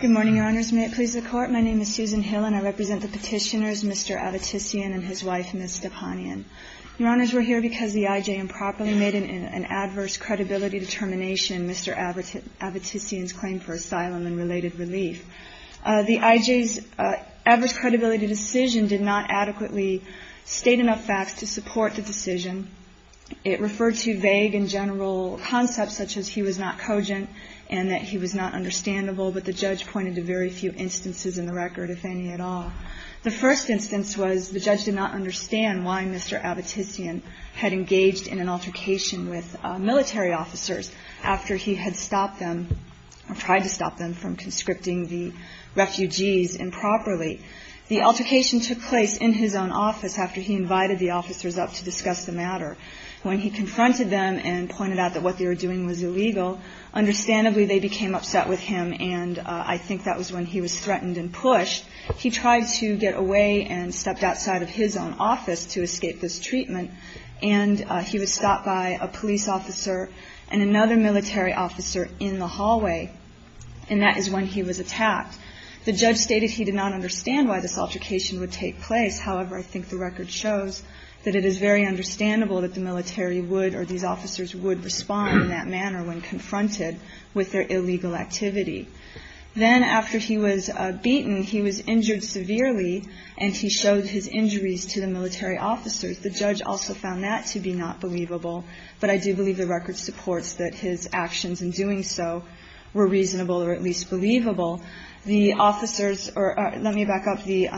Good morning, Your Honors. May it please the Court, my name is Susan Hill and I represent the petitioners, Mr. Avetisyan and his wife, Ms. Stepanian. Your Honors, we're here because the I.J. improperly made an adverse credibility determination, Mr. Avetisyan's claim for asylum and related relief. The I.J.'s adverse credibility decision did not adequately state enough facts to support the decision. It referred to vague and general concepts such as he was not cogent and that he was not understandable, but the judge pointed to very few instances in the record, if any at all. The first instance was the judge did not understand why Mr. Avetisyan had engaged in an altercation with military officers after he had stopped them, or tried to stop them from conscripting the refugees improperly. The altercation took place in his own office after he invited the officers up to discuss the matter. When he confronted them and pointed out that what they were doing was illegal, understandably they became upset with him and I think that was when he was threatened and pushed. He tried to get away and stepped outside of his own office to escape this treatment, and he was stopped by a police officer and another military officer in the hallway, and that is when he was attacked. The judge stated he did not understand why this altercation would take place, however I think the record shows that it is very understandable that the military would or these officers would respond in that manner when confronted with their illegal activity. Then after he was beaten, he was injured severely and he showed his injuries to the military officers. The judge also found that to be not believable, but I do believe the record supports that his actions in doing so were reasonable or at least believable. The officers or let me back up. The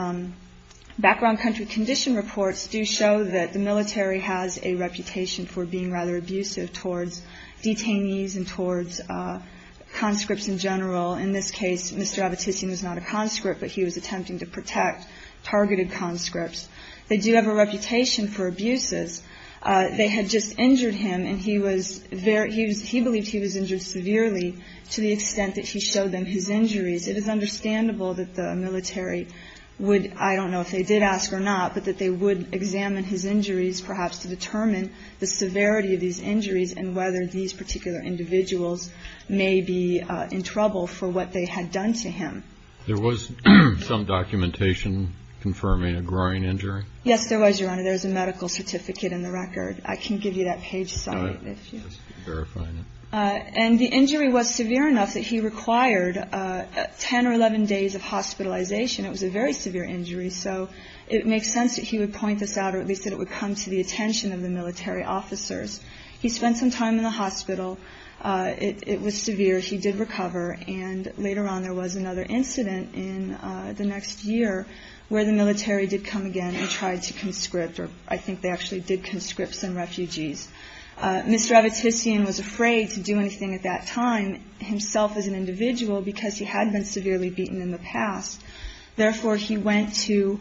background country condition reports do show that the military has a reputation for being rather abusive towards detainees and towards conscripts in general. In this case, Mr. Abitissi was not a conscript, but he was attempting to protect targeted conscripts. They do have a reputation for abuses. They had just injured him and he was very he was he believed he was injured severely to the extent that he the military would, I don't know if they did ask or not, but that they would examine his injuries perhaps to determine the severity of these injuries and whether these particular individuals may be in trouble for what they had done to him. There was some documentation confirming a groin injury? Yes, there was, Your Honor. There's a medical certificate in the record. I can give you that page site if you want. And the injury was severe enough that he required 10 or 11 days of hospitalization. It was a very severe injury. So it makes sense that he would point this out or at least that it would come to the attention of the military officers. He spent some time in the hospital. It was severe. He did recover. And later on, there was another incident in the next year where the military did come again and tried to conscript or I think they actually did conscript some refugees. Mr. Avatician was afraid to do anything at that time himself as an individual because he had been severely beaten in the past. Therefore, he went to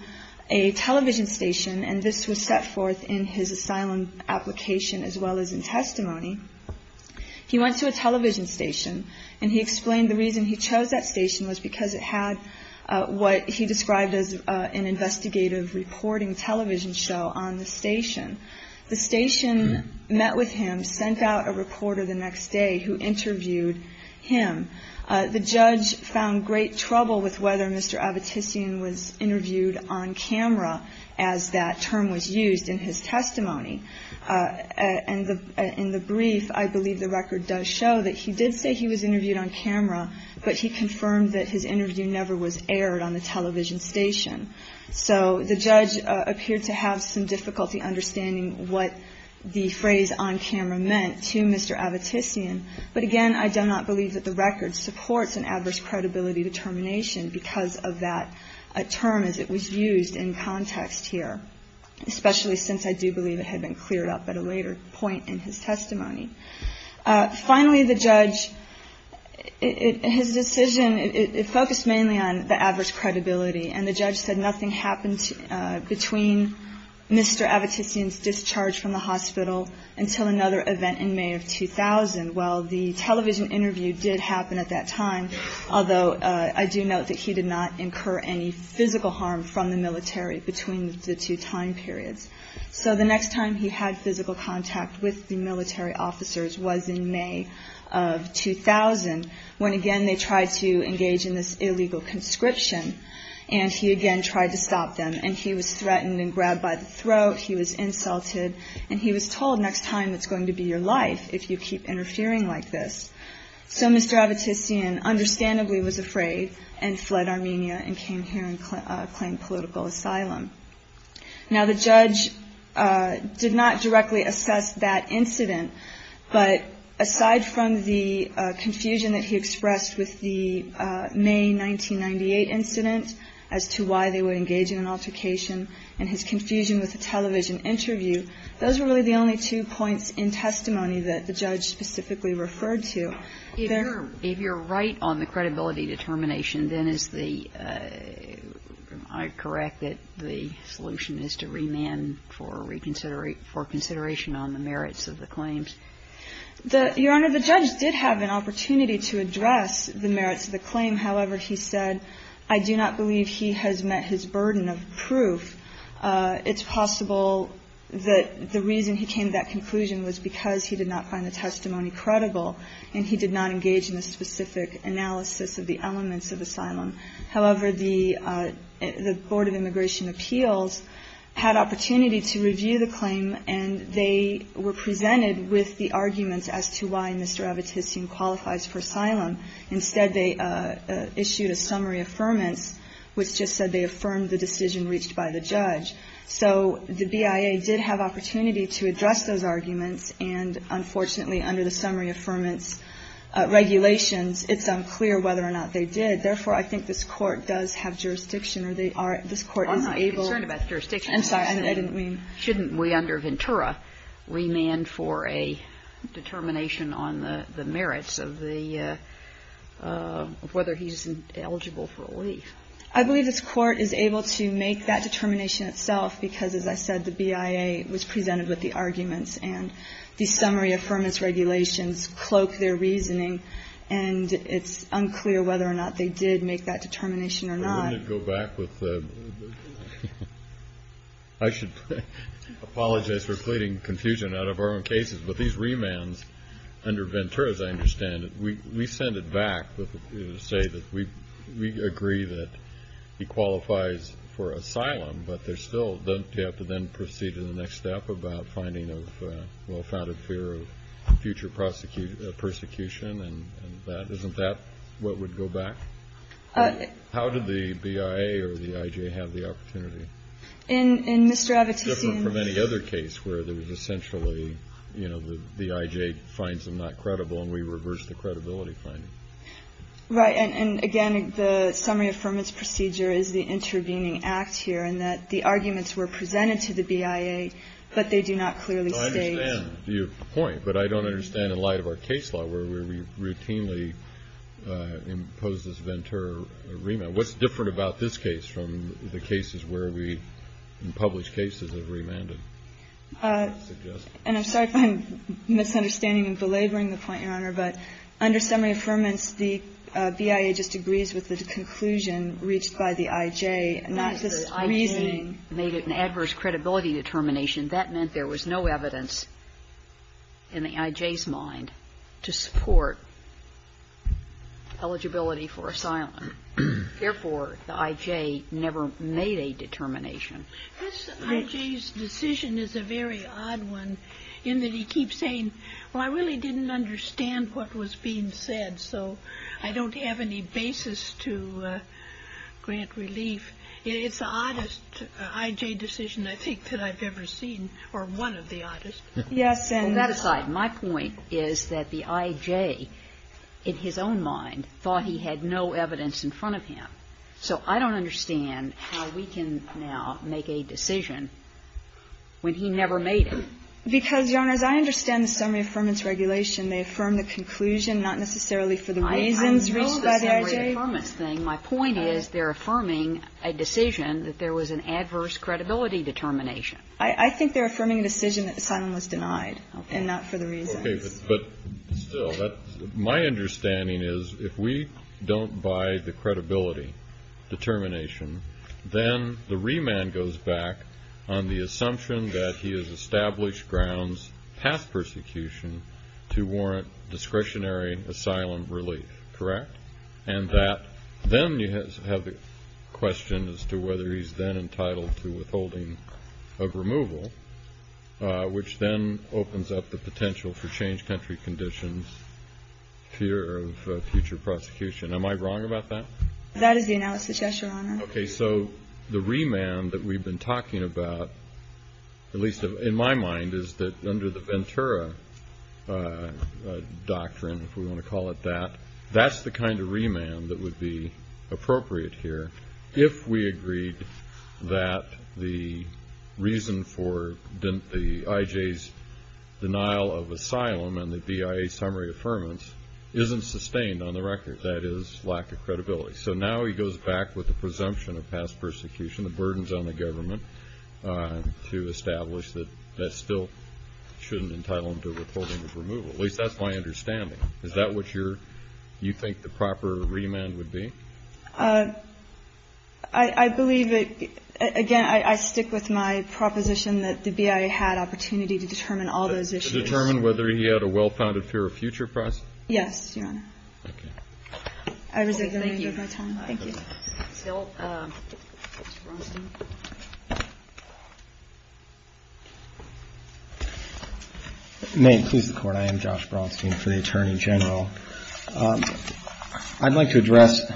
a television station and this was set forth in his asylum application as well as in testimony. He went to a television station and he explained the reason he chose that station was because it had what he described as an investigative reporting television show on the station. The station met with him, sent out a reporter the next day who interviewed him. The judge found great trouble with whether Mr. Avatician was interviewed on camera as that term was used in his testimony. In the brief, I believe the record does show that he did say he was interviewed on camera, but he confirmed that his interview never was used in his testimony. Finally, the judge, his decision, it focused mainly on the adverse effect of the military on him. Mr. Avatician's discharge from the hospital until another event in May of 2000. Well, the television interview did happen at that time, although I do note that he did not incur any physical harm from the military between the two time periods. So the next time he had physical contact with the military officers was in May of 2000 when again they tried to engage in this illegal conscription and he again tried to stop them and he was threatened and grabbed by the throat, he was insulted, and he was told next time it's going to be your life if you keep interfering like this. So Mr. Avatician understandably was afraid and fled Armenia and came here and claimed political asylum. Now the judge did not directly assess that incident, but aside from the confusion that he expressed with the May 1998 incident as to why they were engaging in altercation in his confusion with the television interview, those were really the only two points in testimony that the judge specifically referred to. If you're right on the credibility determination, then is the, am I correct that the solution is to remand for reconsideration on the merits of the claims? Your Honor, the judge did have an opportunity to address the merits of the claim. However, he said, I do not believe he has met his burden of proof. It's possible that the reason he came to that conclusion was because he did not find the testimony credible and he did not engage in a specific analysis of the elements of asylum. However, the Board of Immigration Appeals had opportunity to review the claim and they were presented with the arguments as to why Mr. Avatician qualifies for asylum. Instead, they issued a summary affirmance, which just said they affirmed the decision reached by the judge. So the BIA did have opportunity to address those arguments, and unfortunately, under the summary affirmance regulations, it's unclear whether or not they did. Therefore, I think this Court does have jurisdiction, or they are, this Court is able to. We're not concerned about the jurisdiction. I'm sorry, I didn't mean. Shouldn't we, under Ventura, remand for a determination on the merits of the – of whether he's eligible for relief? I believe this Court is able to make that determination itself because, as I said, the BIA was presented with the arguments and the summary affirmance regulations cloak their reasoning, and it's unclear whether or not they did make that determination or not. Wouldn't it go back with the – I should apologize for pleading confusion out of our own cases, but these remands under Ventura, as I understand it, we send it back to say that we agree that he qualifies for asylum, but there's still – don't you have to then proceed to the next step about finding a well-founded fear of future prosecution and that? Isn't that what would go back? How did the BIA or the I.J. have the opportunity? In Mr. Avitisian's – It's different from any other case where there was essentially, you know, the I.J. finds them not credible and we reverse the credibility finding. Right. And, again, the summary affirmance procedure is the intervening act here in that the arguments were presented to the BIA, but they do not clearly state – I understand your point, but I don't understand in light of our case law where we routinely impose this Ventura remand. What's different about this case from the cases where we in published cases have remanded? And I'm sorry if I'm misunderstanding and belaboring the point, Your Honor, but under summary affirmance, the BIA just agrees with the conclusion reached by the I.J., not just reasoning. The I.J. made it an adverse credibility determination. That meant there was no evidence in the I.J.'s mind to support eligibility for asylum. Therefore, the I.J. never made a determination. This I.J.'s decision is a very odd one in that he keeps saying, well, I really didn't understand what was being said, so I don't have any basis to grant relief. It's the oddest I.J. decision, I think, that I've ever seen, or one of the oddest. Yes, and that aside, my point is that the I.J., in his own mind, thought he had no evidence in front of him. So I don't understand how we can now make a decision when he never made it. Because, Your Honors, I understand the summary affirmance regulation. They affirm the conclusion, not necessarily for the reasons reached by the I.J. My point is they're affirming a decision that there was an adverse credibility determination. I think they're affirming a decision that asylum was denied, and not for the reasons. Okay, but still, my understanding is if we don't buy the credibility determination, then the remand goes back on the assumption that he has established grounds past persecution to warrant discretionary asylum relief, correct? And that then you have the question as to whether he's then entitled to withholding of removal, which then opens up the potential for change country conditions, fear of future prosecution. Am I wrong about that? That is the analysis, yes, Your Honor. Okay, so the remand that we've been talking about, at least in my mind, is that under the Ventura Doctrine, if we want to call it that, that's the kind of remand that would be appropriate here if we agreed that the reason for the I.J.'s denial of asylum and the BIA summary affirmance isn't sustained on the record, that is lack of credibility. So now he goes back with the presumption of past persecution, the burdens on the government, to establish that that still shouldn't entitle him to withholding of removal. At least that's my understanding. Is that what you're you think the proper remand would be? I believe that, again, I stick with my proposition that the BIA had opportunity to determine all those issues. To determine whether he had a well-founded fear of future process? Yes, Your Honor. Okay. I reserve the remainder of my time. Thank you. Mr. Braunstein. May it please the Court. I am Josh Braunstein for the Attorney General. I'd like to address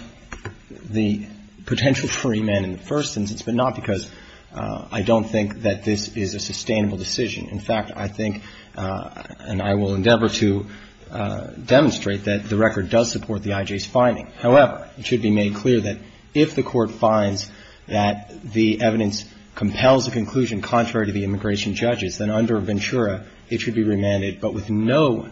the potential for remand in the first instance, but not because I don't think that this is a sustainable decision. In fact, I think and I will endeavor to demonstrate that the record does support the I.J.'s finding. However, it should be made clear that if the Court finds that the evidence compels the conclusion contrary to the immigration judge's, then under Ventura it should be remanded, but with no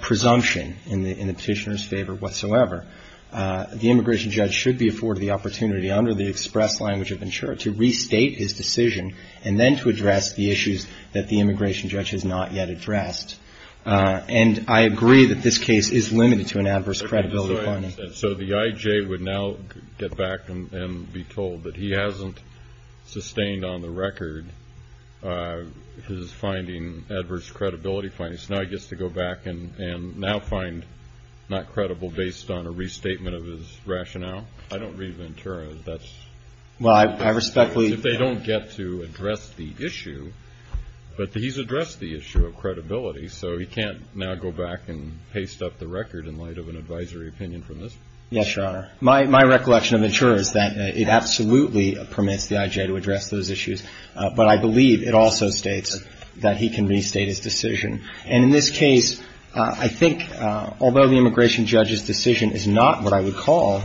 presumption in the petitioner's favor whatsoever. The immigration judge should be afforded the opportunity under the express language of Ventura to restate his decision and then to address the issues that the immigration judge has not yet addressed. And I agree that this case is limited to an adverse credibility finding. So the I.J. would now get back and be told that he hasn't sustained on the record his finding, adverse credibility finding. So now he gets to go back and now find not credible based on a restatement of his rationale? I don't read Ventura. That's... Well, I respectfully... If they don't get to address the issue, but he's addressed the issue of credibility, so he can't now go back and paste up the record in light of an advisory opinion from this? Yes, Your Honor. My recollection of Ventura is that it absolutely permits the I.J. to address those issues, but I believe it also states that he can restate his decision. And in this case, I think although the immigration judge's decision is not what I would call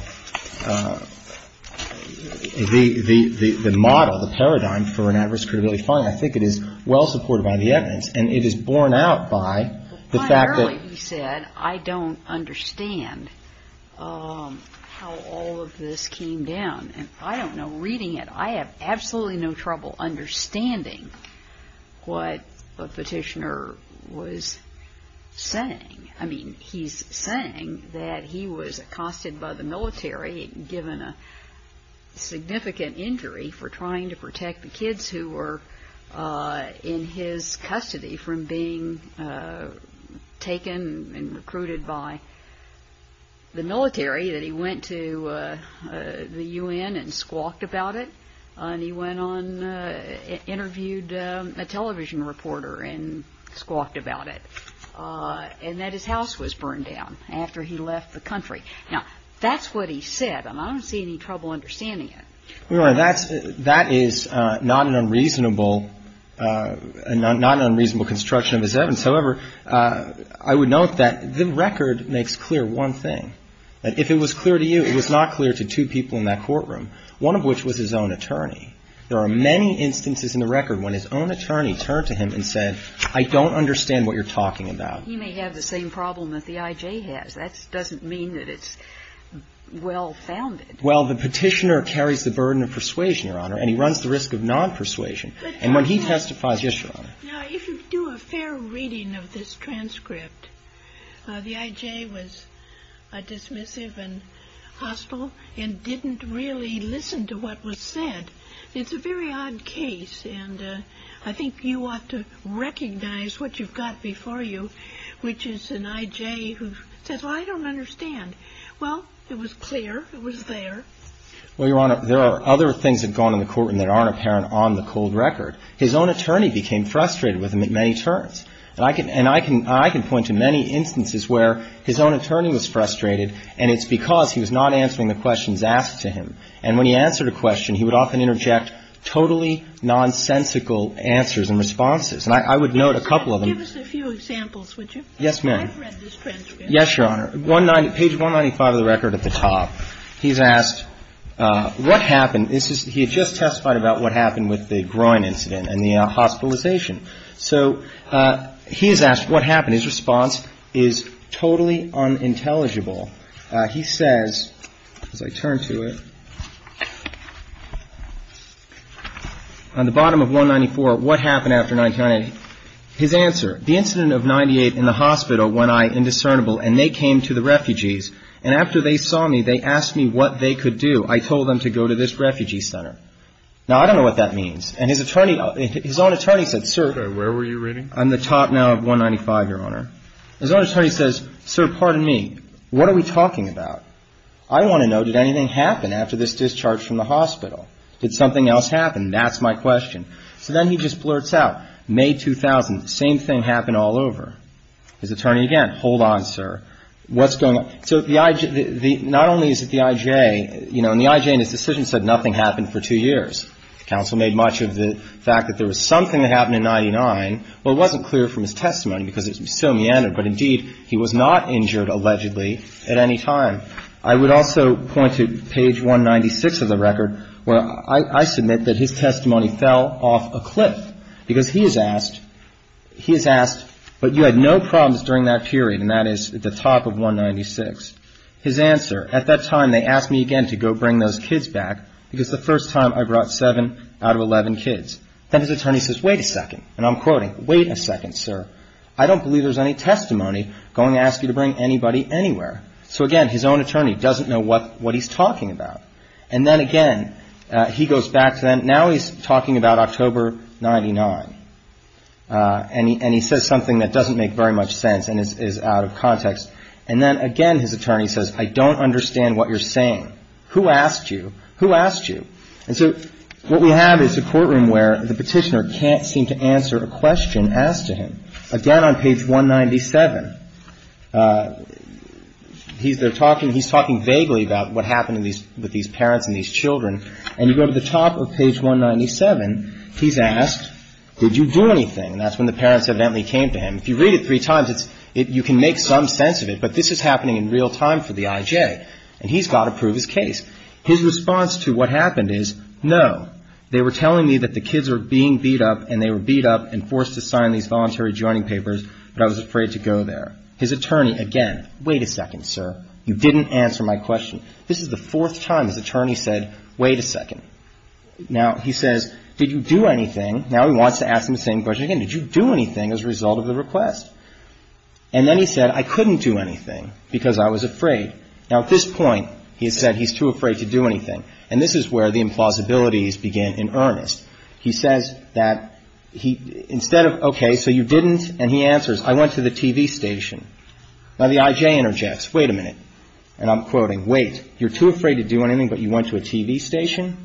the model, the paradigm for an adverse credibility finding, I think it is well supported by the evidence. And it is borne out by the fact that... But primarily, he said, I don't understand how all of this came down. And I don't know, reading it, I have absolutely no trouble understanding what the petitioner was saying. I mean, he's saying that he was accosted by the military and given a significant injury for trying to protect the kids who were in his custody from being taken and recruited by the military, that he went to the U.N. and squawked about it, and he went on, interviewed a television reporter and squawked about it, and that his house was burned down after he left the country. Now, that's what he said, and I don't see any trouble understanding it. Well, Your Honor, that is not an unreasonable construction of his evidence. However, I would note that the record makes clear one thing. If it was clear to you, it was not clear to two people in that courtroom, one of which was his own attorney. There are many instances in the record when his own attorney turned to him and said, I don't understand what you're talking about. He may have the same problem that the I.J. has. That doesn't mean that it's well founded. Well, the Petitioner carries the burden of persuasion, Your Honor, and he runs the risk of non-persuasion. And when he testifies Yes, Your Honor. Now, if you do a fair reading of this transcript, the I.J. was dismissive and hostile and didn't really listen to what was said. It's a very odd case, and I think you ought to recognize what you've got before you, which is an I.J. who says, well, I don't understand. Well, it was clear. It was there. Well, Your Honor, there are other things that go on in the court and that aren't apparent on the cold record. His own attorney became frustrated with him at many turns. And I can point to many instances where his own attorney was frustrated, and it's because he was not answering the questions asked to him. And when he answered a question, he would often interject totally nonsensical answers and responses. And I would note a couple of them. Give us a few examples, would you? Yes, ma'am. I've read this transcript. Yes, Your Honor. Page 195 of the record at the top. He's asked what happened. He had just testified about what happened with the groin incident and the hospitalization. So he's asked what happened. His response is totally unintelligible. He says, as I turn to it, on the bottom of 194, what happened after 1998? His answer, the incident of 98 in the hospital when I, indiscernible, and they came to the refugees. And after they saw me, they asked me what they could do. I told them to go to this refugee center. Now, I don't know what that means. And his attorney, his own attorney said, sir. Where were you reading? On the top now of 195, Your Honor. His own attorney says, sir, pardon me, what are we talking about? I want to know, did anything happen after this discharge from the hospital? Did something else happen? That's my question. So then he just blurts out, May 2000, same thing happened all over. His attorney again, hold on, sir. What's going on? So the IJ, not only is it the IJ, you know, and the IJ in his decision said nothing happened for two years. The counsel made much of the fact that there was something that happened in 99, but it wasn't clear from his testimony because it's so meandered. But, indeed, he was not injured, allegedly, at any time. I would also point to page 196 of the record where I submit that his testimony fell off a cliff. Because he is asked, he is asked, but you had no problems during that period, and that is at the top of 196. His answer, at that time they asked me again to go bring those kids back because the first time I brought seven out of 11 kids. Then his attorney says, wait a second, and I'm quoting, wait a second, sir. I don't believe there's any testimony going to ask you to bring anybody anywhere. So, again, his own attorney doesn't know what he's talking about. And then, again, he goes back to that. Now he's talking about October 99. And he says something that doesn't make very much sense and is out of context. And then, again, his attorney says, I don't understand what you're saying. Who asked you? Who asked you? And so what we have is a courtroom where the petitioner can't seem to answer a question asked to him. Again, on page 197, he's there talking, he's talking vaguely about what happened with these parents and these children. And you go to the top of page 197, he's asked, did you do anything? And that's when the parents evidently came to him. If you read it three times, you can make some sense of it. But this is happening in real time for the I.J. And he's got to prove his case. His response to what happened is, no, they were telling me that the kids were being beat up and they were beat up and forced to sign these voluntary joining papers, but I was afraid to go there. His attorney, again, wait a second, sir, you didn't answer my question. This is the fourth time his attorney said, wait a second. Now, he says, did you do anything? Now, he wants to ask him the same question again. Did you do anything as a result of the request? And then he said, I couldn't do anything because I was afraid. Now, at this point, he has said he's too afraid to do anything. And this is where the implausibilities begin in earnest. He says that instead of, okay, so you didn't, and he answers, I went to the TV station. Now, the I.J. interjects, wait a minute. And I'm quoting, wait, you're too afraid to do anything, but you went to a TV station?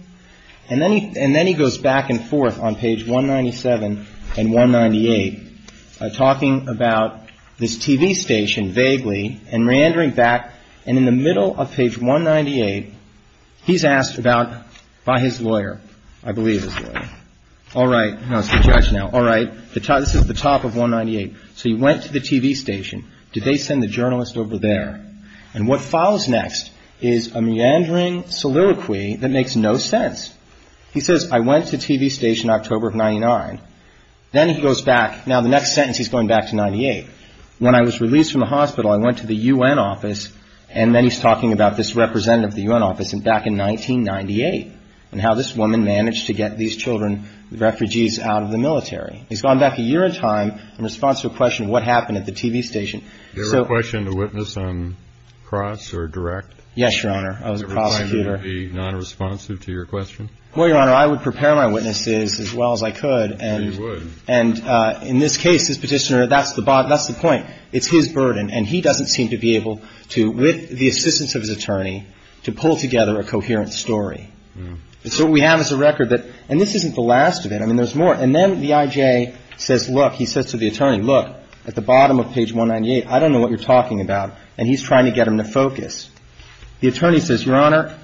And then he goes back and forth on page 197 and 198, talking about this TV station vaguely and reentering back. And in the middle of page 198, he's asked about, by his lawyer, I believe his lawyer, all right, no, it's the judge now, all right, this is the top of 198. So he went to the TV station. Did they send the journalist over there? And what follows next is a meandering soliloquy that makes no sense. He says, I went to TV station October of 99. Then he goes back. Now, the next sentence, he's going back to 98. When I was released from the hospital, I went to the U.N. office. And then he's talking about this representative of the U.N. office back in 1998 and how this woman managed to get these children, refugees, out of the military. He's gone back a year in time in response to a question of what happened at the TV station. So the question to witness on cross or direct? Yes, Your Honor. I was a prosecutor. Would you be nonresponsive to your question? Well, Your Honor, I would prepare my witnesses as well as I could. You would. And in this case, this Petitioner, that's the point. It's his burden. And he doesn't seem to be able to, with the assistance of his attorney, to pull together a coherent story. And so what we have is a record that – and this isn't the last of it. I mean, there's more. And then the I.J. says, look – he says to the attorney, look, at the bottom of page 198, I don't know what you're talking about. And he's trying to get him to focus. The attorney says, Your Honor,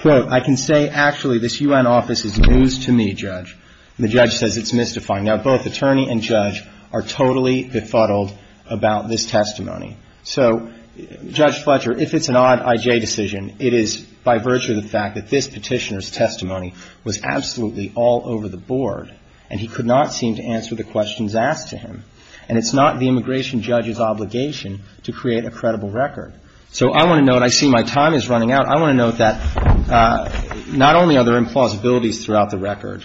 quote, I can say actually this U.N. office is news to me, Judge. And the judge says it's mystifying. Now, both attorney and judge are totally befuddled about this testimony. So, Judge Fletcher, if it's an odd I.J. decision, it is by virtue of the fact that this Petitioner's testimony was absolutely all over the board, and he could not seem to answer the questions asked to him. And it's not the immigration judge's obligation to create a credible record. So I want to note – I see my time is running out. I want to note that not only are there implausibilities throughout the record,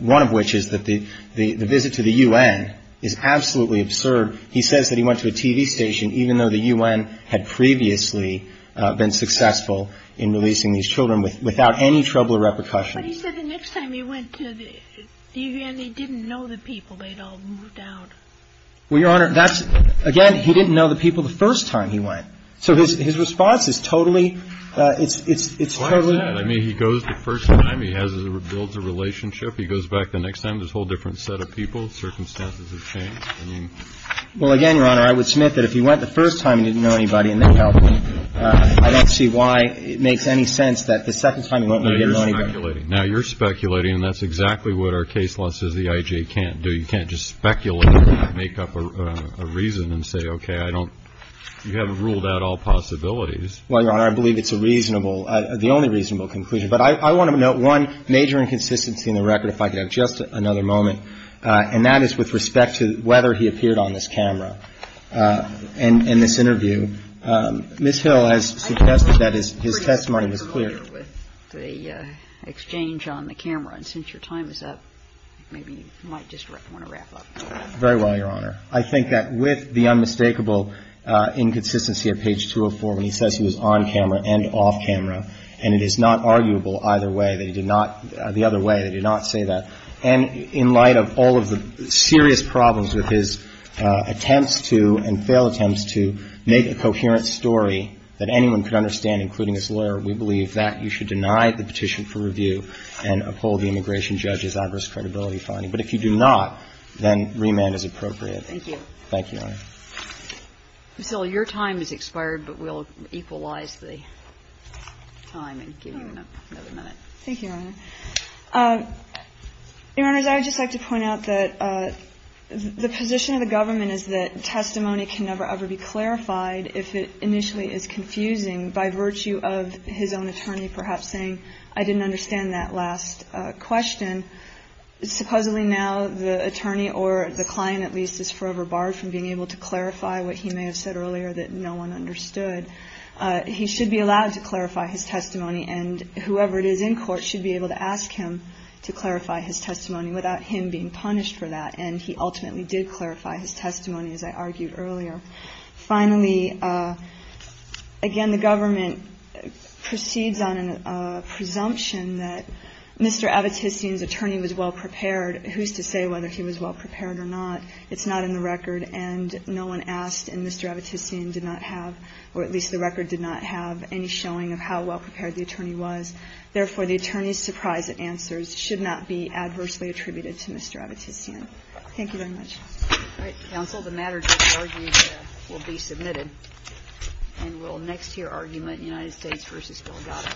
one of which is that the visit to the U.N. is absolutely absurd. He says that he went to a TV station, even though the U.N. had previously been successful in releasing these children without any trouble or repercussions. But he said the next time he went to the U.N., he didn't know the people. They'd all moved out. Well, Your Honor, that's – again, he didn't know the people the first time he went. So his response is totally – it's totally – Why is that? I mean, he goes the first time. He builds a relationship. He goes back the next time. There's a whole different set of people. Circumstances have changed. Well, again, Your Honor, I would submit that if he went the first time, he didn't know anybody, and that would help. I don't see why it makes any sense that the second time he went, he didn't know anybody. No, you're speculating. Now, you're speculating, and that's exactly what our case law says the I.J. can't do. You can't just speculate and make up a reason and say, okay, I don't – you haven't ruled out all possibilities. Well, Your Honor, I believe it's a reasonable – the only reasonable conclusion. But I want to note one major inconsistency in the record, if I could have just another moment, and that is with respect to whether he appeared on this camera in this interview. Ms. Hill has suggested that his testimony was clear. I agree with the exchange on the camera. And since your time is up, maybe you might just want to wrap up. Very well, Your Honor. I think that with the unmistakable inconsistency at page 204 when he says he was on camera and off camera, and it is not arguable either way that he did not – the other way, they did not say that. And in light of all of the serious problems with his attempts to and failed attempts to make a coherent story that anyone could understand, including his lawyer, we believe that you should deny the petition for review and uphold the immigration judge's adverse credibility finding. But if you do not, then remand is appropriate. Thank you. Thank you, Your Honor. Ms. Hill, your time has expired, but we'll equalize the time and give you another minute. Thank you, Your Honor. Your Honors, I would just like to point out that the position of the government is that testimony can never ever be clarified if it initially is confusing by virtue of his own attorney perhaps saying, I didn't understand that last question. Supposedly now the attorney or the client at least is forever barred from being able to clarify what he may have said earlier that no one understood. He should be allowed to clarify his testimony, and whoever it is in court should be able to ask him to clarify his testimony without him being punished for that. And he ultimately did clarify his testimony, as I argued earlier. Finally, again, the government proceeds on a presumption that Mr. Avitissian's attorney was well-prepared. Who's to say whether he was well-prepared or not? It's not in the record. And no one asked, and Mr. Avitissian did not have, or at least the record did not have, any showing of how well-prepared the attorney was. Therefore, the attorney's surprise at answers should not be adversely attributed to Mr. Avitissian. Thank you very much. All right. Counsel, the matter to be argued will be submitted. And we'll next hear argument, United States v. Delgado.